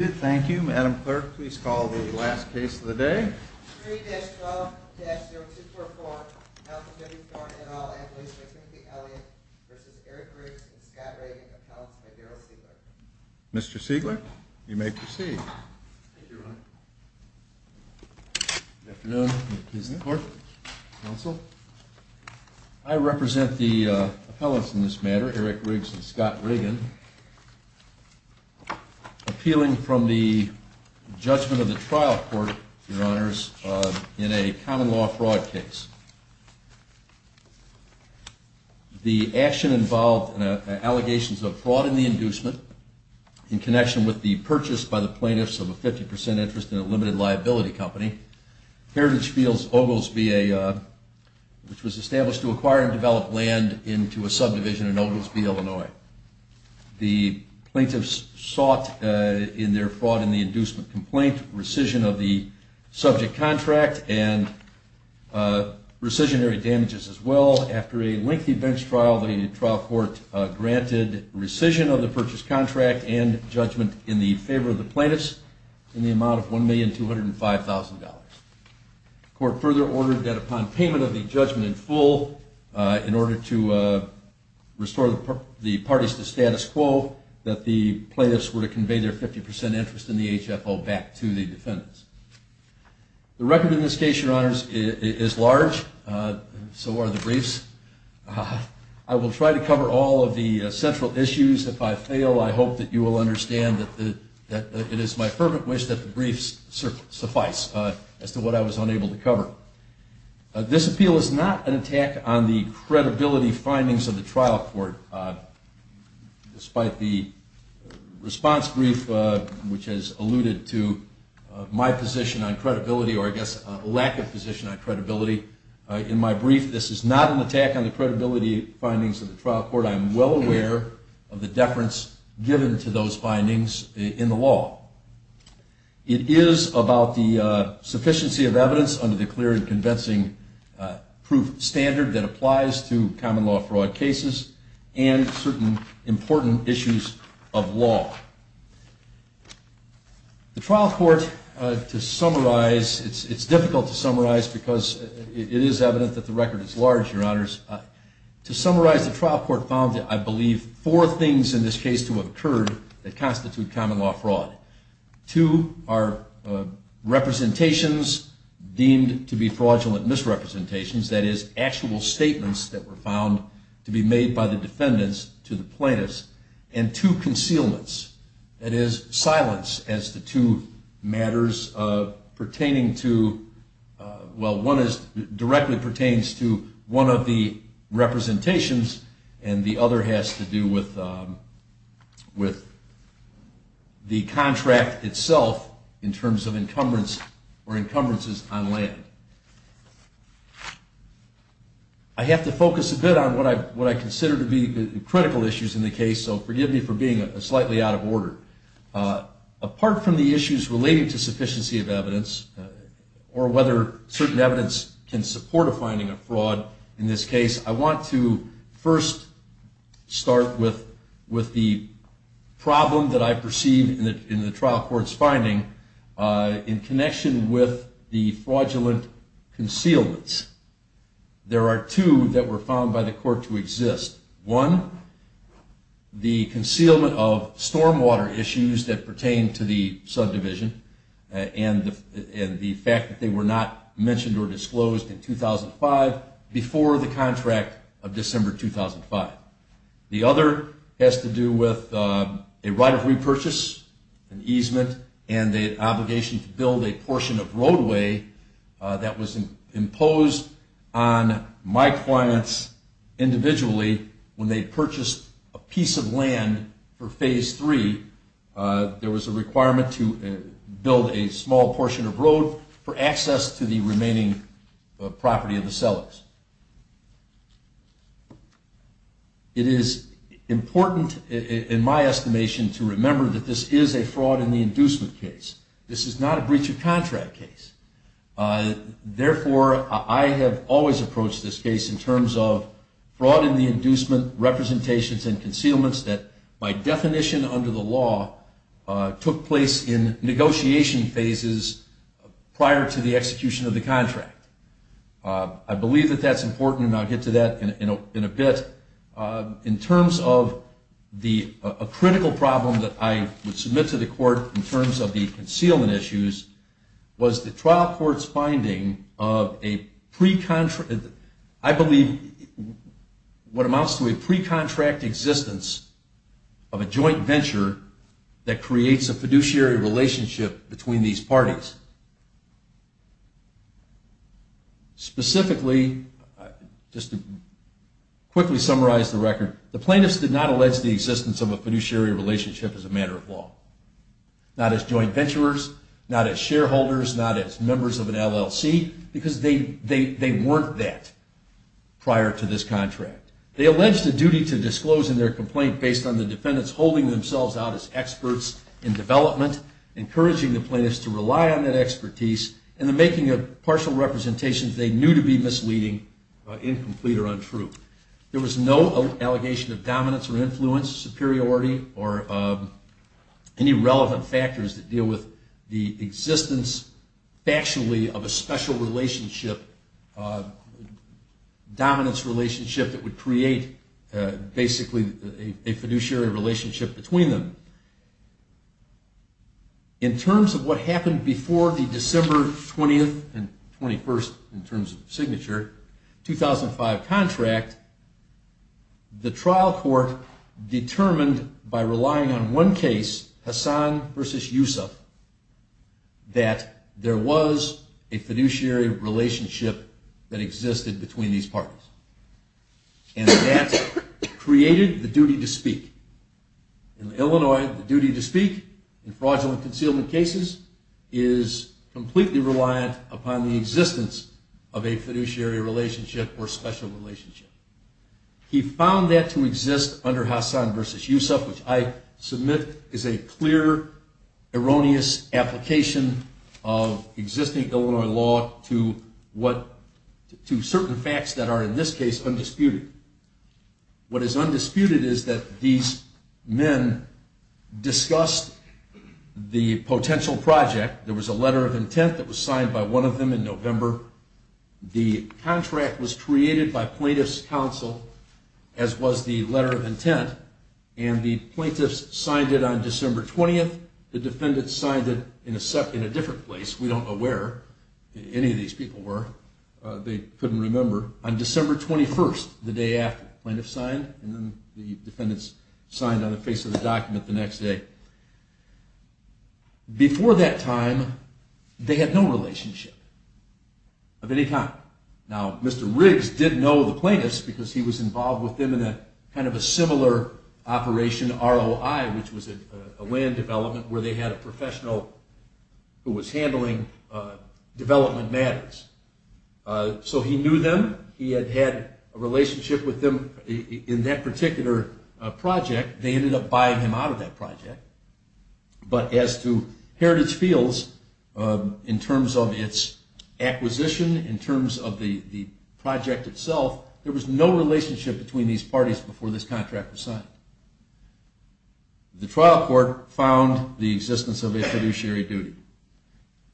Thank you, Madam Clerk. Please call the last case of the day. 3-12-0244 Malcolm Henry Thorne, et al. Ambulance for Timothy Elliott v. Eric Riggs and Scott Riggin Appellants by Darryl Siegler. Mr. Siegler, you may proceed. Thank you, Your Honor. Good afternoon. I represent the appellants in this matter, Eric Riggs and Scott Riggin, appealing from the judgment of the trial court, Your Honors, in a common law fraud case. The action involved allegations of fraud in the inducement in connection with the purchase by the plaintiffs of a 50 percent interest in a limited liability company, Heritage Fields Oglesby, which was established to acquire and develop land into a subdivision in Oglesby, Illinois. The plaintiffs sought in their fraud in the inducement complaint rescission of the subject contract and rescissionary damages as well. After a lengthy bench trial, the trial court granted rescission of the purchase contract and judgment in the favor of the plaintiffs in the amount of $1,205,000. The court further ordered that upon payment of the judgment in full in order to restore the parties to status quo that the plaintiffs were to convey their 50 percent interest in the HFO back to the defendants. The record in this case, Your Honors, is large. So are the briefs. I will try to cover all of the central issues. If I fail, I hope that you will understand that it is my fervent wish that the briefs suffice as to what I was unable to cover. This appeal is not an attack on the credibility findings of the trial court, despite the response brief which has alluded to my position on credibility, or I guess a lack of position on credibility. In my brief, this is not an attack on the credibility findings of the trial court. I am well aware of the deference given to those findings in the law. It is about the fair and convincing proof standard that applies to common law fraud cases and certain important issues of law. The trial court to summarize, it's difficult to summarize because it is evident that the record is large, Your Honors. To summarize, the trial court found, I believe, four things in this case to have occurred that constitute common law fraud. Two are representations deemed to be fraudulent misrepresentations, that is actual statements that were found to be made by the defendants to the plaintiffs, and two concealments, that is silence as to two matters pertaining to well, one directly pertains to one of the representations and the other has to do with the contract itself in terms of encumbrance or encumbrances on land. I have to focus a bit on what I consider to be critical issues in the case, so forgive me for being slightly out of order. Apart from the issues relating to sufficiency of evidence or whether certain evidence can support a finding of fraud in this case, I want to first start with the problem that I perceive in the trial court's finding in connection with the fraudulent concealments. There are two that were found by the court to exist. One, the concealment of stormwater issues that pertain to the subdivision and the fact that they were not mentioned or disclosed in 2005 before the contract of December 2005. The other has to do with a right of repurchase, an easement, and the obligation to build a portion of roadway that was imposed on my clients individually when they purchased a piece of land for Phase 3. There was a requirement to build a small portion of road for access to the remaining property of the sellers. It is important in my estimation to remember that this is a fraud in the inducement case. This is not a breach of contract case. Therefore, I have always approached this case in terms of fraud in the inducement, representations, and concealments that by definition under the law took place in negotiation phases prior to the execution of the contract. I believe that that's important, and I'll get to that in a bit. In terms of a critical problem that I would submit to the court in terms of the concealment issues was the trial court's finding of a pre-contract, I believe, what amounts to a pre-contract existence of a joint venture that creates a fiduciary relationship between these parties. Specifically, just to quickly summarize the record, the plaintiffs did not allege the existence of a fiduciary relationship as a matter of law. Not as joint venturers, not as shareholders, not as members of an LLC, because they weren't that prior to this contract. They allege the duty to disclose in their complaint based on the defendants holding themselves out as experts in development, encouraging the plaintiffs to rely on that expertise, and the making of partial representations they knew to be misleading, incomplete, or untrue. There was no allegation of dominance or influence, superiority, or any relevant factors that deal with the existence factually of a special relationship, dominance relationship that would create basically a fiduciary relationship between them. In terms of what happened before the December 20th and 21st, in terms of signature, 2005 contract, the trial court determined by relying on one case, Hassan versus Yusuf, that there was a fiduciary relationship that existed between these parties. And that created the duty to speak. In Illinois, the duty to speak in fraudulent concealment cases is completely reliant upon the existence of a fiduciary relationship or special relationship. He found that to exist under Hassan versus Yusuf, which I submit is a clear, erroneous application of existing Illinois law to certain facts that are, in this case, undisputed. What is undisputed is that these men discussed the potential project. There was a letter of intent that was signed by one of them in November. The contract was created by plaintiff's counsel, as was the letter of intent. And the plaintiffs signed it on December 20th. The defendants signed it in a different place. We don't know where any of these people were. They couldn't remember. On December 21st, the day after, plaintiffs signed, and then the defendants signed on the face of the document the next day. Before that time, they had no relationship of any kind. Now, Mr. Riggs did know the plaintiffs because he was involved with them in a similar operation, ROI, which was a land development where they had a professional who was handling development matters. So he knew them. He had had a relationship with them in that particular project. They ended up buying him out of that project. But as to Heritage Fields, in terms of its acquisition, in terms of the project itself, there was no relationship between these parties before this contract was signed. The trial court found the existence of a fiduciary duty.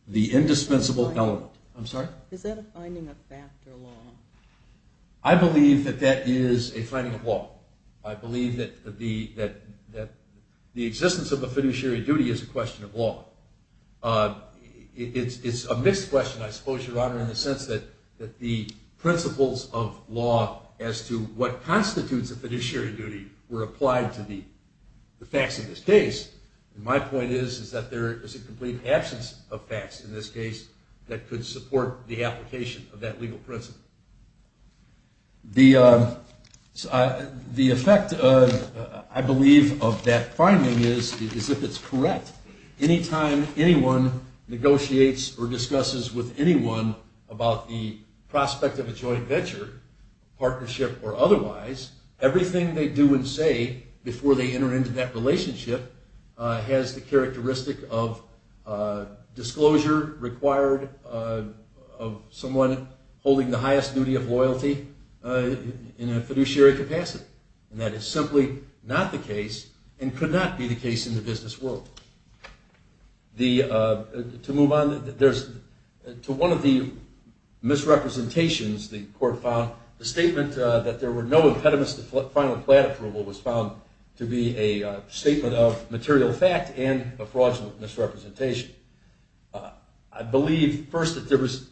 The indispensable element. I'm sorry? Is that a finding of fact or law? I believe that that is a finding of law. I believe that the existence of a fiduciary duty is a question of law. It's a mixed question, I suppose, Your Honor, in the sense that the principles of law as to what constitutes a fiduciary duty were applied to the facts of this case. My point is that there is a complete absence of facts in this case that could support the application of that legal principle. The effect, I believe, of that finding is, if it's correct, any time anyone negotiates or discusses with anyone about the prospect of a joint venture, partnership or otherwise, everything they do and say before they enter into that relationship has the characteristic of disclosure required of someone holding the highest duty of loyalty in a fiduciary capacity. That is simply not the case and could not be the case in the business world. To move on, to one of the misrepresentations the court found, the statement that there were no impediments to be a statement of material fact and a fraudulent misrepresentation. I believe, first, that there was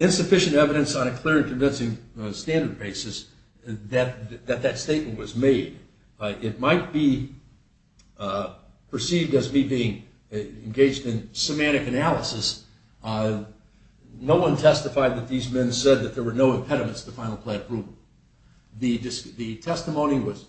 insufficient evidence on a clear and convincing standard basis that that statement was made. It might be perceived as me being engaged in semantic analysis. No one testified that these men said that there were no impediments to final plan approval. The testimony was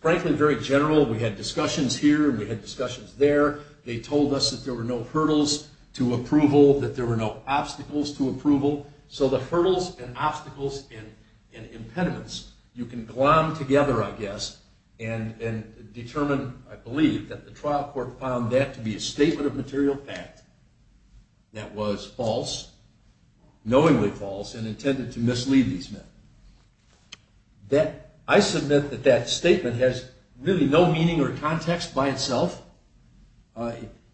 frankly very general. We had discussions here and we had discussions there. They told us that there were no hurdles to approval, that there were no obstacles to approval. So the hurdles and obstacles and impediments, you can glom together, I guess, and determine, I believe, that the trial court found that to be a statement of material fact that was false, knowingly false, and intended to mislead these men. I submit that that statement has really no meaning or context by itself.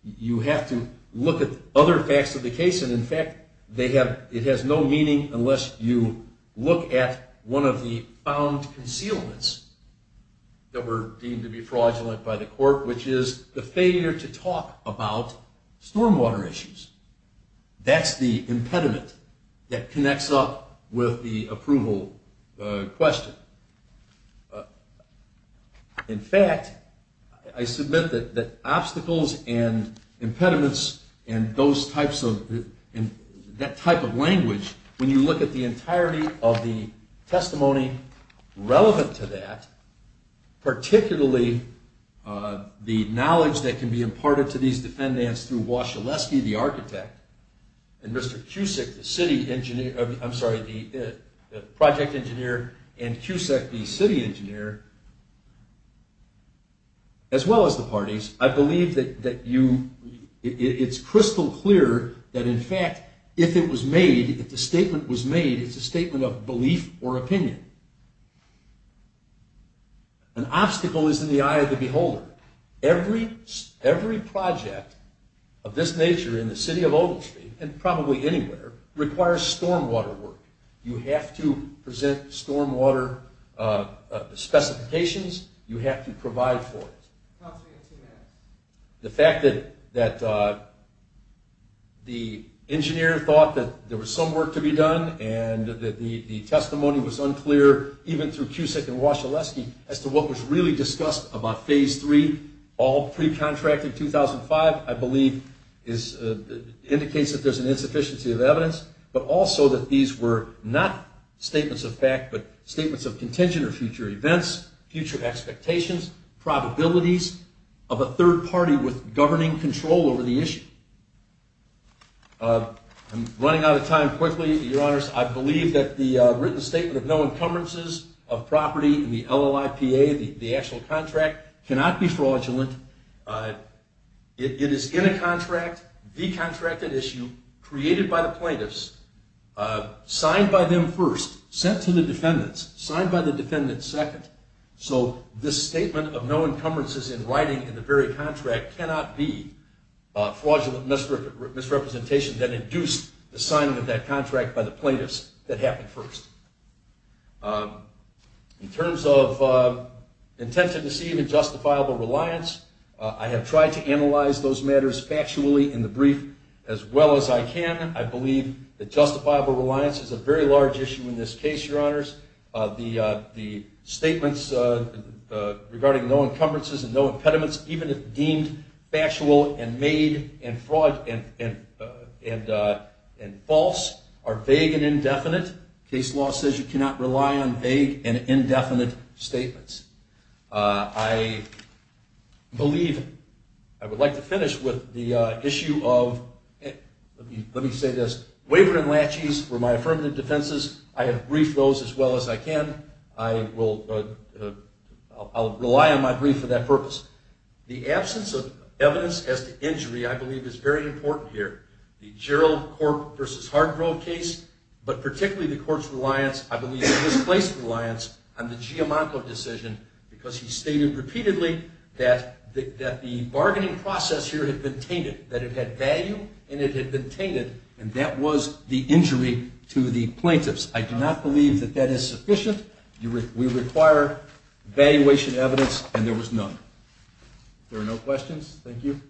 You have to look at other facts of the case, and in fact, it has no meaning unless you look at one of the found concealments that were deemed to be fraudulent by the court, which is the failure to talk about storm water issues. That's the impediment that leads to the approval question. In fact, I submit that obstacles and impediments and that type of language, when you look at the entirety of the testimony relevant to that, particularly the knowledge that can be imparted to these defendants through Wascheleski, the architect, and Mr. Cusick, the city engineer, I'm sorry, the project engineer, and Cusick, the city engineer, as well as the parties, I believe that it's crystal clear that, in fact, if it was made, if the statement was made, it's a statement of belief or opinion. An obstacle is in the eye of the beholder. Every project of this nature in the city of Ogletree, and probably anywhere, requires storm water work. You have to present storm water specifications. You have to provide for it. The fact that the engineer thought that there was some work to be done and that the testimony was unclear, even through Cusick and Wascheleski, as to what was really discussed about phase three, all pre-contracted 2005, I believe indicates that there's an insufficiency of evidence, but also that these were not statements of fact, but statements of contingent or future events, future expectations, probabilities of a third party with governing control over the issue. I'm running out of time quickly, Your Honors. I believe that the written statement of no encumbrances of property in the LLIPA, the actual contract, cannot be fraudulent. It is in a contract, the contracted issue, created by the plaintiffs, signed by them first, sent to the defendants, signed by the defendants second, so this statement of no encumbrances in writing in the very contract cannot be fraudulent misrepresentation that induced the signing of that contract by the plaintiffs that happened first. In terms of intent to receive and justifiable reliance, I have tried to analyze those matters factually in the brief as well as I can. I believe that justifiable reliance is a very large issue in this case, Your Honors. The statements regarding no encumbrances and no impediments, even if deemed factual and made and false, are vague and indefinite. Case law says you cannot rely on vague and indefinite statements. I believe I would like to finish with the issue of let me say this, waiver and latches were my affirmative defenses. I have briefed those as well as I can. I will rely on my brief for that purpose. The absence of evidence as to injury, I believe, is very important here. The Gerald Corp. v. Hardgrove case, but particularly the court's reliance, I believe, displaced reliance on the Giammanco decision because he stated repeatedly that the bargaining process here had been tainted, that it had value and it had been tainted, and that was the injury to the plaintiffs. I do not believe that that is sufficient. We require evaluation evidence, and there was none. If there are no questions, thank you.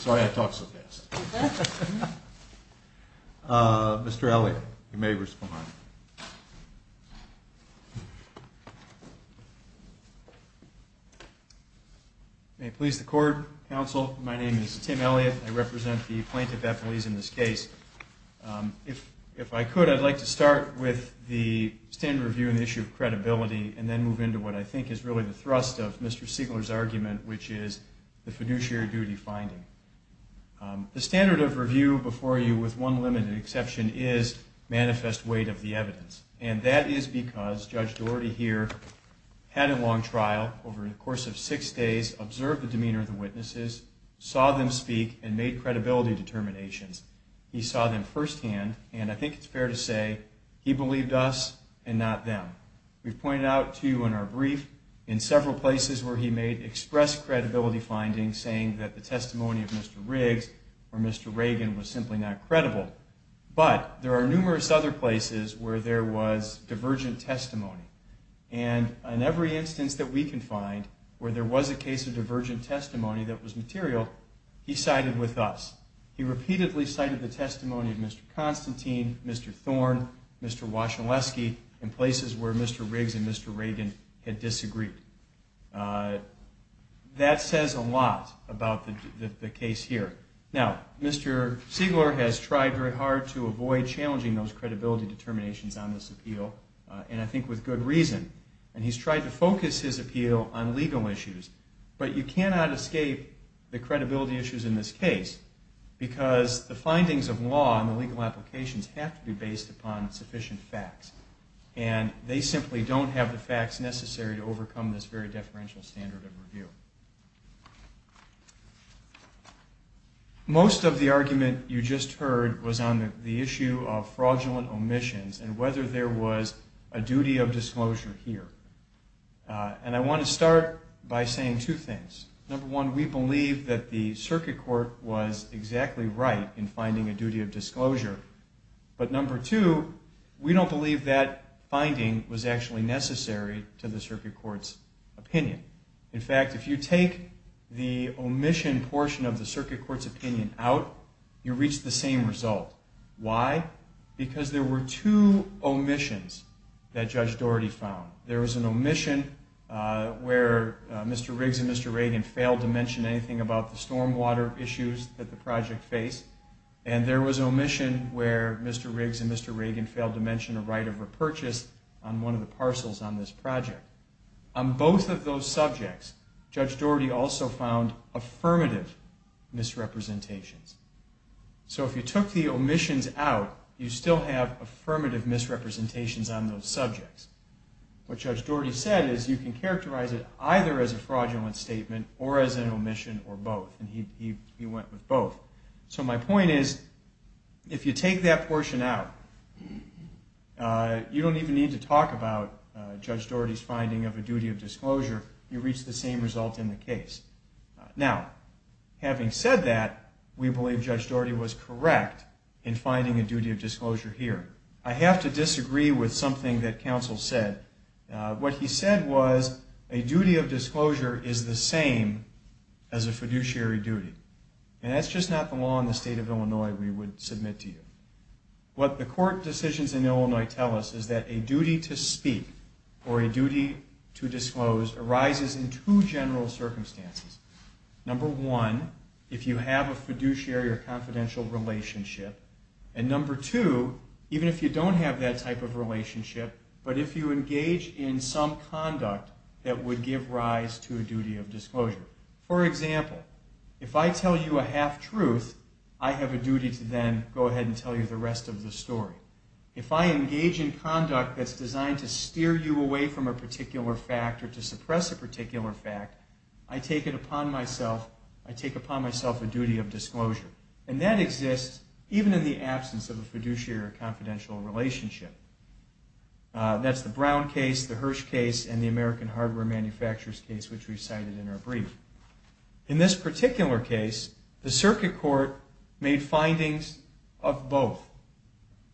Sorry I talk so fast. Mr. Elliott, you may respond. May it please the court, counsel, my name is Tim Elliott. I represent the plaintiff at Belize in this case. If I could, I'd like to start with the standard review and the issue of credibility, and then move into what I think is really the thrust of Mr. Siegler's argument, which is the fiduciary duty finding. The standard of review before you, with one limited exception, is manifest weight of the evidence, and that is because Judge Doherty here had a long trial over the course of six days, observed the demeanor of the witnesses, saw them speak, and made credibility determinations. He saw them firsthand, and I think it's fair to say he believed us and not them. We've pointed out to you in our brief in several places where he made express credibility findings, saying that the testimony of Mr. Riggs or Mr. Reagan was simply not credible, but there are numerous other places where there was divergent testimony, and in every instance that we can find where there was a case of divergent testimony that was material, he sided with us. He repeatedly cited the testimony of Mr. Constantine, Mr. Thorne, Mr. Wacholeski, in places where Mr. Riggs and Mr. Reagan had disagreed. That says a lot about the case here. Now, Mr. Siegler has tried very hard to avoid challenging those credibility determinations on this appeal, and I think with good reason, and he's tried to focus his appeal on legal issues, but you cannot escape the credibility issues in this case because the findings of law and the legal applications have to be based upon sufficient facts, and they simply don't have the facts necessary to overcome this very deferential standard of review. Most of the argument you just heard was on the issue of fraudulent omissions and whether there was a duty of disclosure here. And I want to start by saying two things. Number one, we believe that the circuit court was exactly right in finding a duty of disclosure, but number two, we don't believe that it was actually necessary to the circuit court's opinion. In fact, if you take the omission portion of the circuit court's opinion out, you reach the same result. Why? Because there were two omissions that Judge Doherty found. There was an omission where Mr. Riggs and Mr. Reagan failed to mention anything about the stormwater issues that the project faced, and there was an omission where Mr. Riggs and Mr. Reagan failed to mention a right of repurchase on one of the parcels on this project. On both of those subjects, Judge Doherty also found affirmative misrepresentations. So if you took the omissions out, you still have affirmative misrepresentations on those subjects. What Judge Doherty said is you can characterize it either as a fraudulent statement or as an omission or both, and he went with both. So my point is, if you take that portion out, you don't even need to talk about Judge Doherty's finding of a duty of disclosure. You reach the same result in the case. Now, having said that, we believe Judge Doherty was correct in finding a duty of disclosure here. I have to disagree with something that counsel said. What he said was a duty of disclosure is the same as a fiduciary duty, and that's just not the law in the state of Illinois we would submit to you. What the court decisions in Illinois tell us is that a duty to speak or a duty to disclose arises in two general circumstances. Number one, if you have a fiduciary or confidential relationship, and number two, even if you don't have that type of relationship, but if you engage in some conduct that would give rise to a duty of disclosure. For example, if I tell you a duty to then go ahead and tell you the rest of the story. If I engage in conduct that's designed to steer you away from a particular fact or to suppress a particular fact, I take it upon myself a duty of disclosure. And that exists even in the absence of a fiduciary or confidential relationship. That's the Brown case, the Hirsch case, and the American Hardware Manufacturers case which we cited in our brief. In this particular case, the circuit court made findings of both.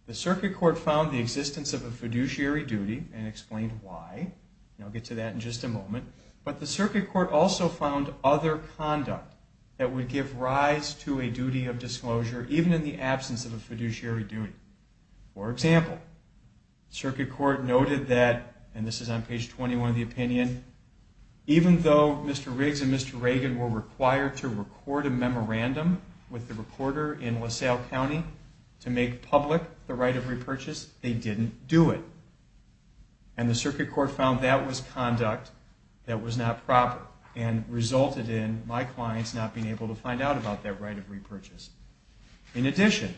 The circuit court found the existence of a fiduciary duty and explained why, and I'll get to that in just a moment, but the circuit court also found other conduct that would give rise to a duty of disclosure even in the absence of a fiduciary duty. For example, the circuit court noted that, and this is on page 21 of the opinion, even though Mr. Riggs and Mr. Reagan were required to record a memorandum with the recorder in LaSalle County to make public the right of repurchase, they didn't do it. And the circuit court found that was conduct that was not proper and resulted in my clients not being able to find out about that right of repurchase. In addition,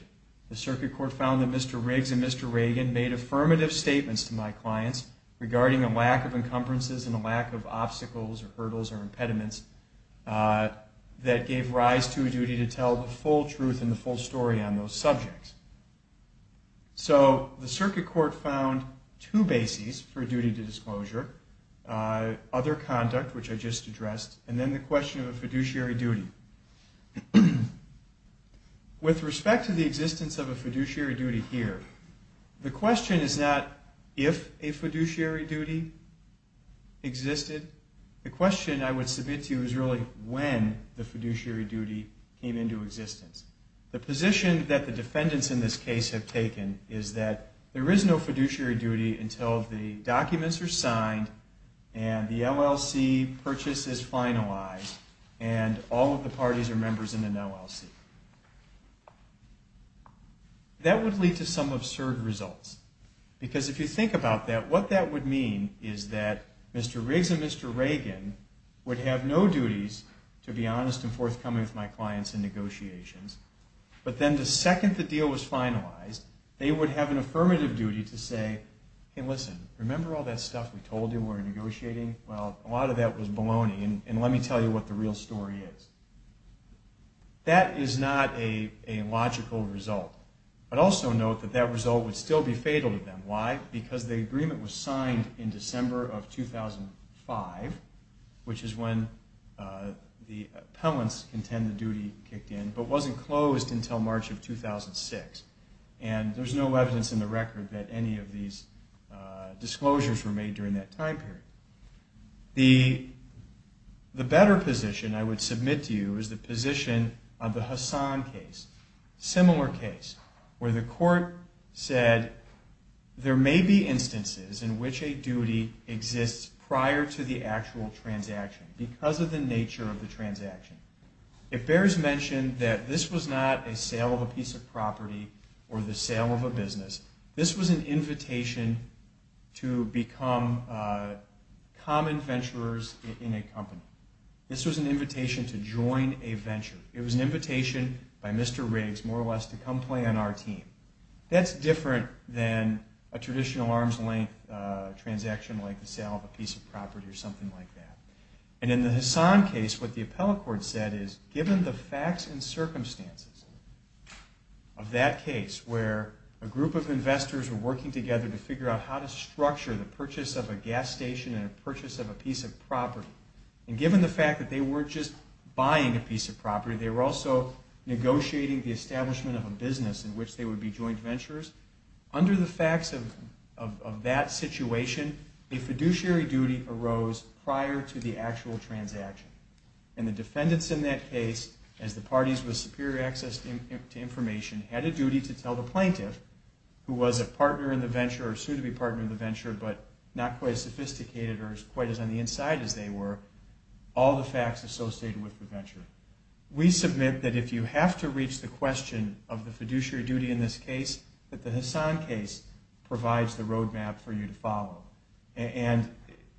the circuit court found that Mr. Riggs and Mr. Reagan made affirmative statements to my clients regarding a lack of encumbrances and a lack of obstacles or hurdles or impediments that gave rise to a duty to tell the full truth and the full story on those subjects. So the circuit court found two bases for duty to disclosure, other conduct, which I just addressed, and then the question of a fiduciary duty. With respect to the existence of a fiduciary duty here, the question is not if a fiduciary duty existed. The question I would submit to you is really when the fiduciary duty came into existence. The position that the defendants in this case have taken is that there is no fiduciary duty until the documents are signed and the LLC purchase is finalized and all of the parties are members in an LLC. That would lead to some absurd results, because if you think about that, what that would mean is that Mr. Riggs and Mr. Reagan would have no duties, to be honest and forthcoming with my clients in negotiations, but then the second the deal was finalized they would have an affirmative duty to say, hey listen, remember all that stuff we told you when we were negotiating? Well, a lot of that was baloney and let me tell you what the real story is. That is not a logical result, but also note that that result would still be fatal to them. Why? Because the agreement was signed in December of 2005, which is when the appellants contended duty kicked in, but wasn't closed until March of 2006 and there's no evidence in the record that any of these disclosures were made during that time period. The better position I would submit to you is the position of the Hassan case, similar case where the court said there may be instances in which a duty exists prior to the actual transaction because of the nature of the transaction. It bears mention that this was not a sale of a piece of property or the sale of a business. This was an invitation to become common venturers in a company. This was an invitation to join a venture. It was an invitation by our team. That's different than a traditional arms length transaction like the sale of a piece of property or something like that. In the Hassan case, what the appellate court said is given the facts and circumstances of that case where a group of investors were working together to figure out how to structure the purchase of a gas station and a purchase of a piece of property, and given the fact that they weren't just buying a piece of property, they were also negotiating the establishment of a business in which they would be joint venturers, under the facts of that situation, a fiduciary duty arose prior to the actual transaction. And the defendants in that case, as the parties with superior access to information, had a duty to tell the plaintiff, who was a partner in the venture or soon to be partner in the venture but not quite as sophisticated or quite as on the inside as they were, all the facts associated with the venture. We submit that if you have to reach the question of the fiduciary duty in this case, that the Hassan case provides the road map for you to follow. And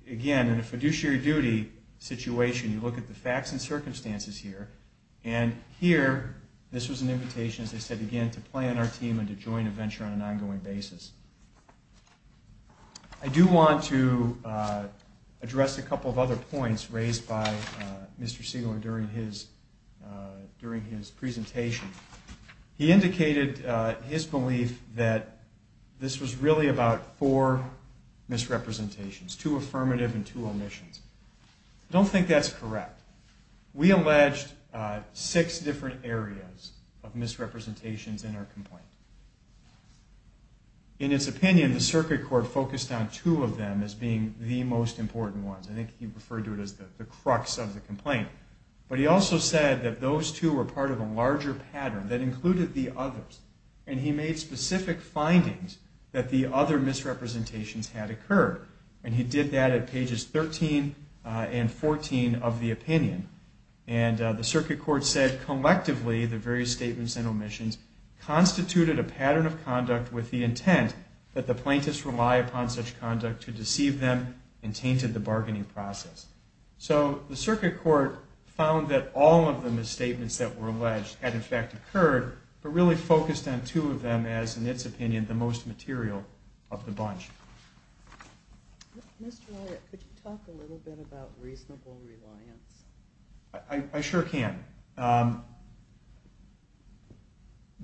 again, in a fiduciary duty situation, you look at the facts and circumstances here, and here, this was an invitation, as I said again, to plan our team and to join a venture on an ongoing basis. I do want to address a couple of other points raised by Mr. Siegel during his presentation. He indicated his belief that this was really about four misrepresentations, two affirmative and two omissions. I don't think that's correct. We alleged six different areas of misrepresentations in our complaint. In its opinion, the circuit court focused on two of them as being the most important ones. I think he referred to the crux of the complaint. But he also said that those two were part of a larger pattern that included the others. And he made specific findings that the other misrepresentations had occurred. And he did that at pages 13 and 14 of the opinion. And the circuit court said, collectively, the various statements and omissions constituted a pattern of conduct with the intent of the bargaining process. So the circuit court found that all of the misstatements that were alleged had, in fact, occurred, but really focused on two of them as, in its opinion, the most material of the bunch. Mr. Wyatt, could you talk a little bit about reasonable reliance? I sure can.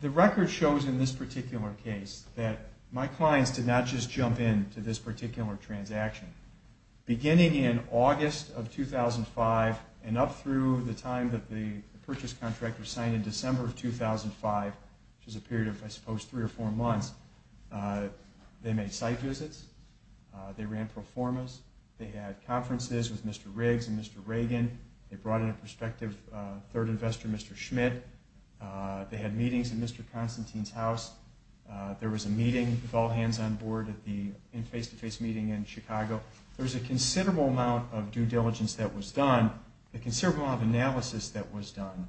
The record shows in this particular case that my clients did not just jump in to this particular transaction. Beginning in August of 2005 and up through the time that the purchase contract was signed in December of 2005, which is a period of, I suppose, three or four months, they made site visits. They ran pro formas. They had conferences with Mr. Riggs and Mr. Reagan. They brought in a prospective third investor, Mr. Schmidt. They had meetings in Mr. Constantine's house. There was a meeting with all hands on board at the face-to-face meeting in Chicago. There was a considerable amount of due diligence that was done, a considerable amount of analysis that was done,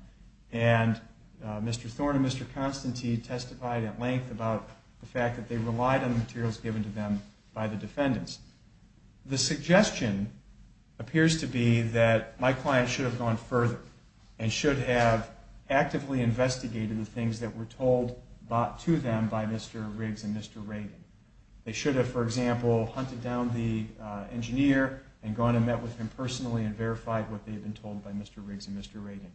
and Mr. Thorne and Mr. Constantine testified at length about the fact that they relied on the materials given to them by the defendants. The suggestion appears to be that my clients should have gone further and should have actively investigated the things that were told to them by Mr. Reagan. They should have, for example, hunted down the engineer and gone and met with him personally and verified what they had been told by Mr. Riggs and Mr. Reagan.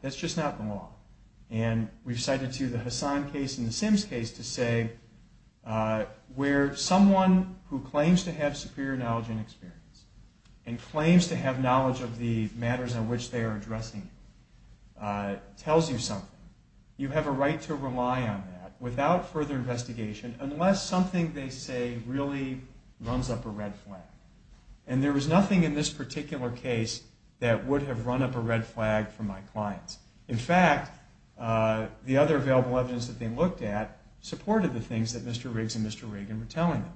That's just not the law. And we've cited, too, the Hassan case and the Sims case to say where someone who claims to have superior knowledge and experience and claims to have knowledge of the matters on which they are addressing tells you something, you have a right to rely on that without further investigation unless something they say really runs up a red flag. And there was nothing in this particular case that would have run up a red flag for my clients. In fact, the other available evidence that they looked at supported the things that Mr. Riggs and Mr. Reagan were telling them.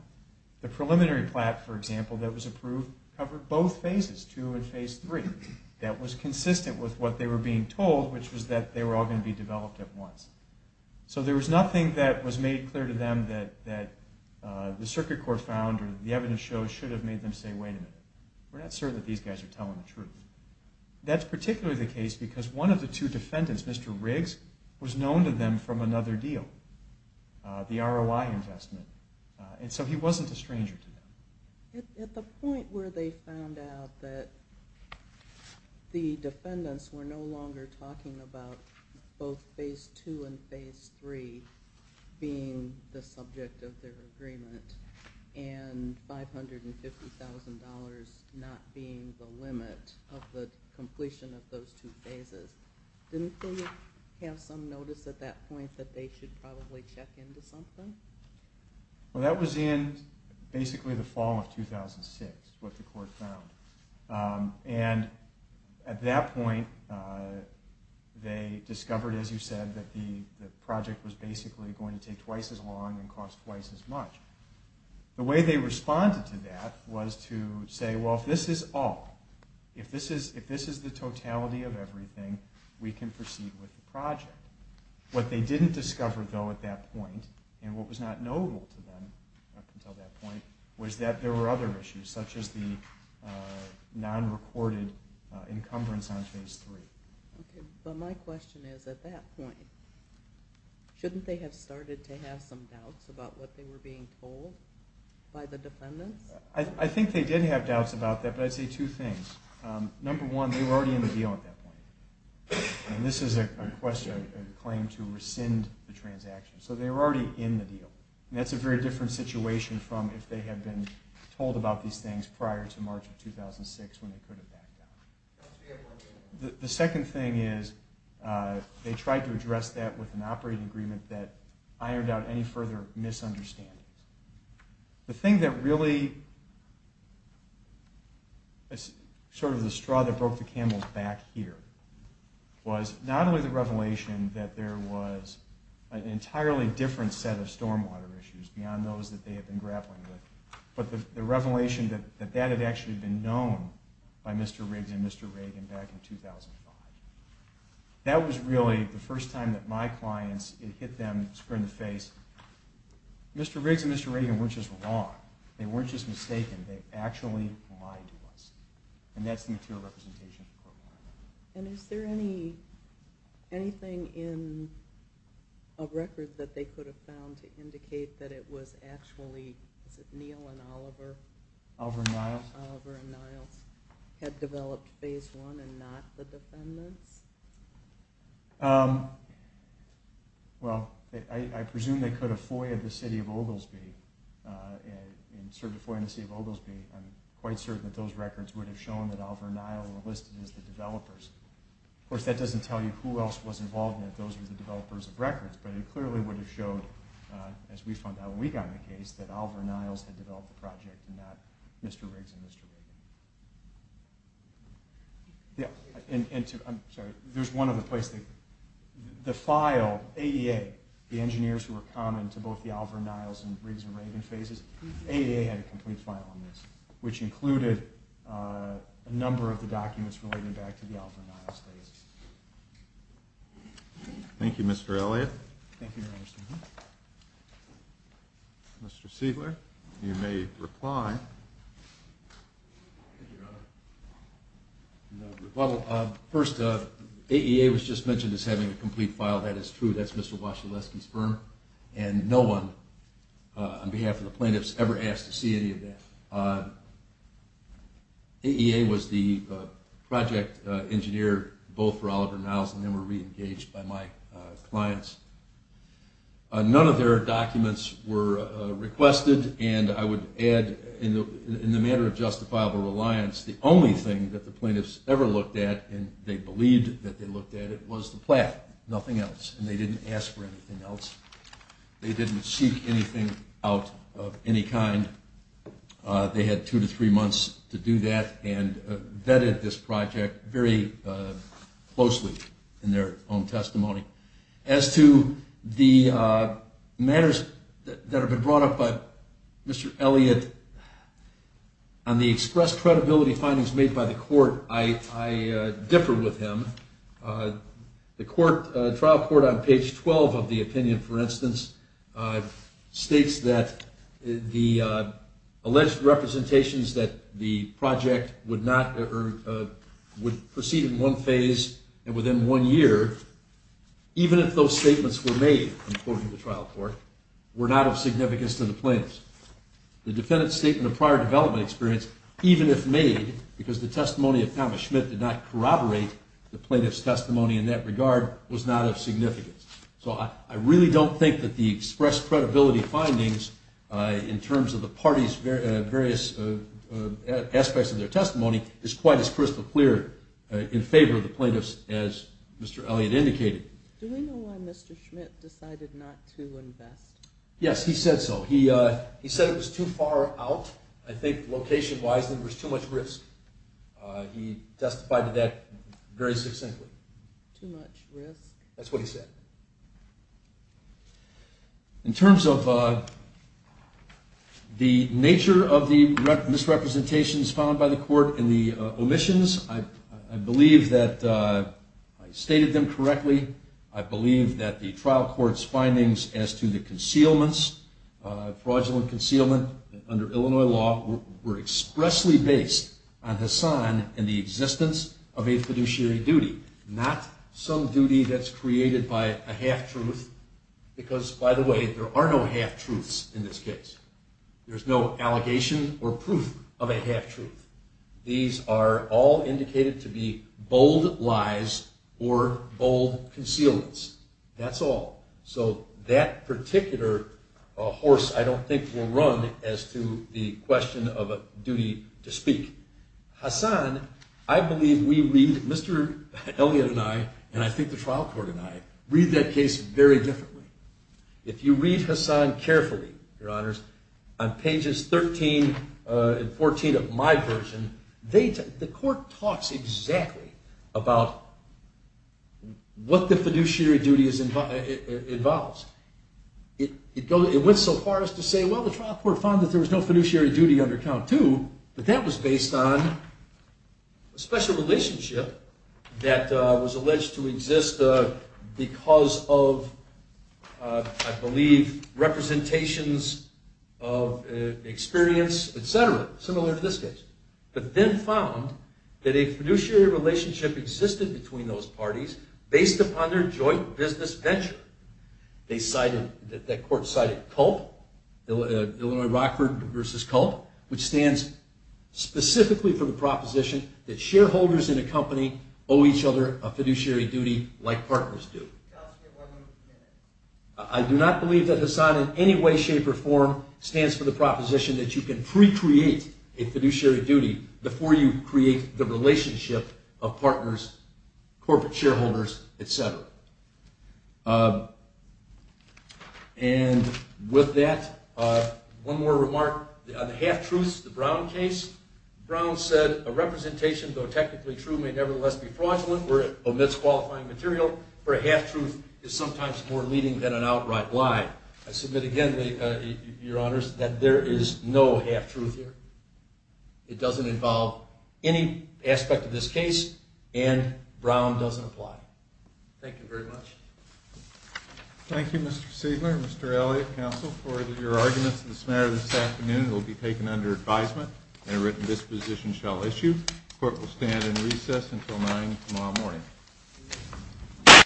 The preliminary plat, for example, that was approved covered both phases, two and phase three, that was consistent with what they were being told, which was that they were all going to be developed at once. So there was nothing that was made clear to them that the circuit court found or the evidence shows should have made them say, wait a minute, we're not certain that these guys are telling the truth. That's particularly the case because one of the two defendants, Mr. Riggs, was known to them from another deal, the ROI investment. And so he wasn't a stranger to them. At the point where they found out that the defendants were no both phase two and phase three being the subject of their agreement and $550,000 not being the limit of the completion of those two phases, didn't they have some notice at that point that they should probably check into something? Well, that was in basically the fall of 2006, what the court found. And at that point they discovered, as you said, that the project was basically going to take twice as long and cost twice as much. The way they responded to that was to say, well, if this is all, if this is the totality of everything, we can proceed with the project. What they didn't discover, though, at that point, and what was not notable to them up until that point, was that there were other issues, such as the non-recorded encumbrance on phase three. But my question is, at that point, shouldn't they have started to have some doubts about what they were being told by the defendants? I think they did have doubts about that, but I'd say two things. Number one, they were already in the deal at that point. And this is a claim to rescind the transaction. So they were already in the deal. And that's a very different situation from if they had been told about these things prior to March of 2006 when they could have backed out. The second thing is they tried to address that with an operating agreement that ironed out any further misunderstandings. The thing that really, sort of the straw that broke the camel's back here, was not only the revelation that there was an entirely different set of stormwater issues beyond those that they had been grappling with, but the storm by Mr. Riggs and Mr. Reagan back in 2005. That was really the first time that my clients, it hit them square in the face. Mr. Riggs and Mr. Reagan weren't just wrong. They weren't just mistaken. They actually lied to us. And that's the material representation of the court file. And is there anything in a record that they could have found to indicate that it was actually, is it Neal and Oliver? Oliver and Niles? Had developed Phase I and not the defendants? Well, I presume they could have FOIA'd the city of Oglesby, and certainly FOIA'd the city of Oglesby. I'm quite certain that those records would have shown that Oliver and Niles were listed as the developers. Of course, that doesn't tell you who else was involved in it. Those were the developers of records. But it clearly would have showed, as we found out when we got the case, that Oliver and Niles had developed the project and not Mr. Riggs and Mr. Reagan. There's one other place. The file, AEA, the engineers who were common to both the Oliver and Niles and Riggs and Reagan phases, AEA had a complete file on this, which included a number of the documents relating back to the Oliver and Niles phases. Thank you, Mr. Elliott. Thank you, Your Honor. Mr. Siegler, you may reply. Thank you, Your Honor. First, AEA was just mentioned as having a complete file. That is true. That's Mr. Wascheleski's firm. And no one, on behalf of the plaintiffs, ever asked to see any of that. AEA was the project engineer both for Oliver and Niles, and then were re-engaged by my clients. None of their documents were requested. And I would add, in the matter of justifiable reliance, the only thing that the plaintiffs ever looked at and they believed that they looked at, it was the plaque. Nothing else. And they didn't ask for anything else. They didn't seek anything out of any kind. They had two to three months to do that and vetted this project very closely in their own testimony. As to the matters that have been brought up by Mr. Elliott, on the expressed credibility findings made by the court, I differ with him. The trial court on page 12 of the opinion, for instance, states that the alleged representations that the project would not or would proceed in one phase and within one year, even if those statements were made, according to the trial court, were not of significance to the plaintiffs. The defendant's statement of prior development experience, even if made, because the testimony of Thomas Schmidt did not corroborate the plaintiff's testimony in that regard, was not of significance. So I really don't think that the expressed credibility findings, in terms of the parties' various aspects of their testimony, is quite as crystal clear in favor of the plaintiffs as Mr. Elliott indicated. Do we know why Mr. Schmidt decided not to invest? Yes, he said so. He said it was too far out, I think location-wise, and there was too much risk. He testified to that very succinctly. Too much risk? That's what he said. In terms of the nature of the misrepresentations found by the court and the omissions, I believe that I stated them correctly. I believe that the trial court's findings as to the concealments, fraudulent concealment under Illinois law, were expressly based on Hassan and the existence of a fiduciary duty, not some duty that's created by a half-truth, because, by the way, there are no half-truths in this case. There's no allegation or proof of a half-truth. These are all indicated to be bold lies or bold concealments. That's all. So that particular horse, I don't think, will run as to the question of a duty to speak. Hassan, I believe we read, Mr. Elliott and I, and I think the trial court and I, read that case very differently. If you read Hassan carefully, Your Honors, on pages 13 and 14 of my version, the court talks exactly about what the fiduciary duty involves. It went so far as to say, well, the trial court found that there was no fiduciary duty under count two, but that was based on a special relationship that was alleged to exist because of, I believe, representations of experience, etc., similar to this case. But then found that a fiduciary relationship existed between those parties based upon their joint business venture. That court cited CULP, Illinois Rockford v. CULP, which stands specifically for the proposition that shareholders in a company owe each other a fiduciary duty like partners do. I do not believe that Hassan in any way, shape, or form stands for the proposition that you can pre-create a fiduciary duty before you create the relationship of partners, corporate shareholders, etc. And with that, one more remark. On the half-truths, the Brown case, Brown said, a representation, though technically true, may nevertheless be fraudulent where it omits qualifying material, where a half-truth is sometimes more leading than an outright lie. I submit again, Your Honors, that there is no half-truth here. It doesn't involve any aspect of this case, and Brown doesn't apply. Thank you very much. Thank you, Mr. Siegler and Mr. Elliott, counsel, for your arguments in this matter this afternoon. It will be taken under advisement, and a written disposition shall issue. The Court will stand in recess until 9 tomorrow morning.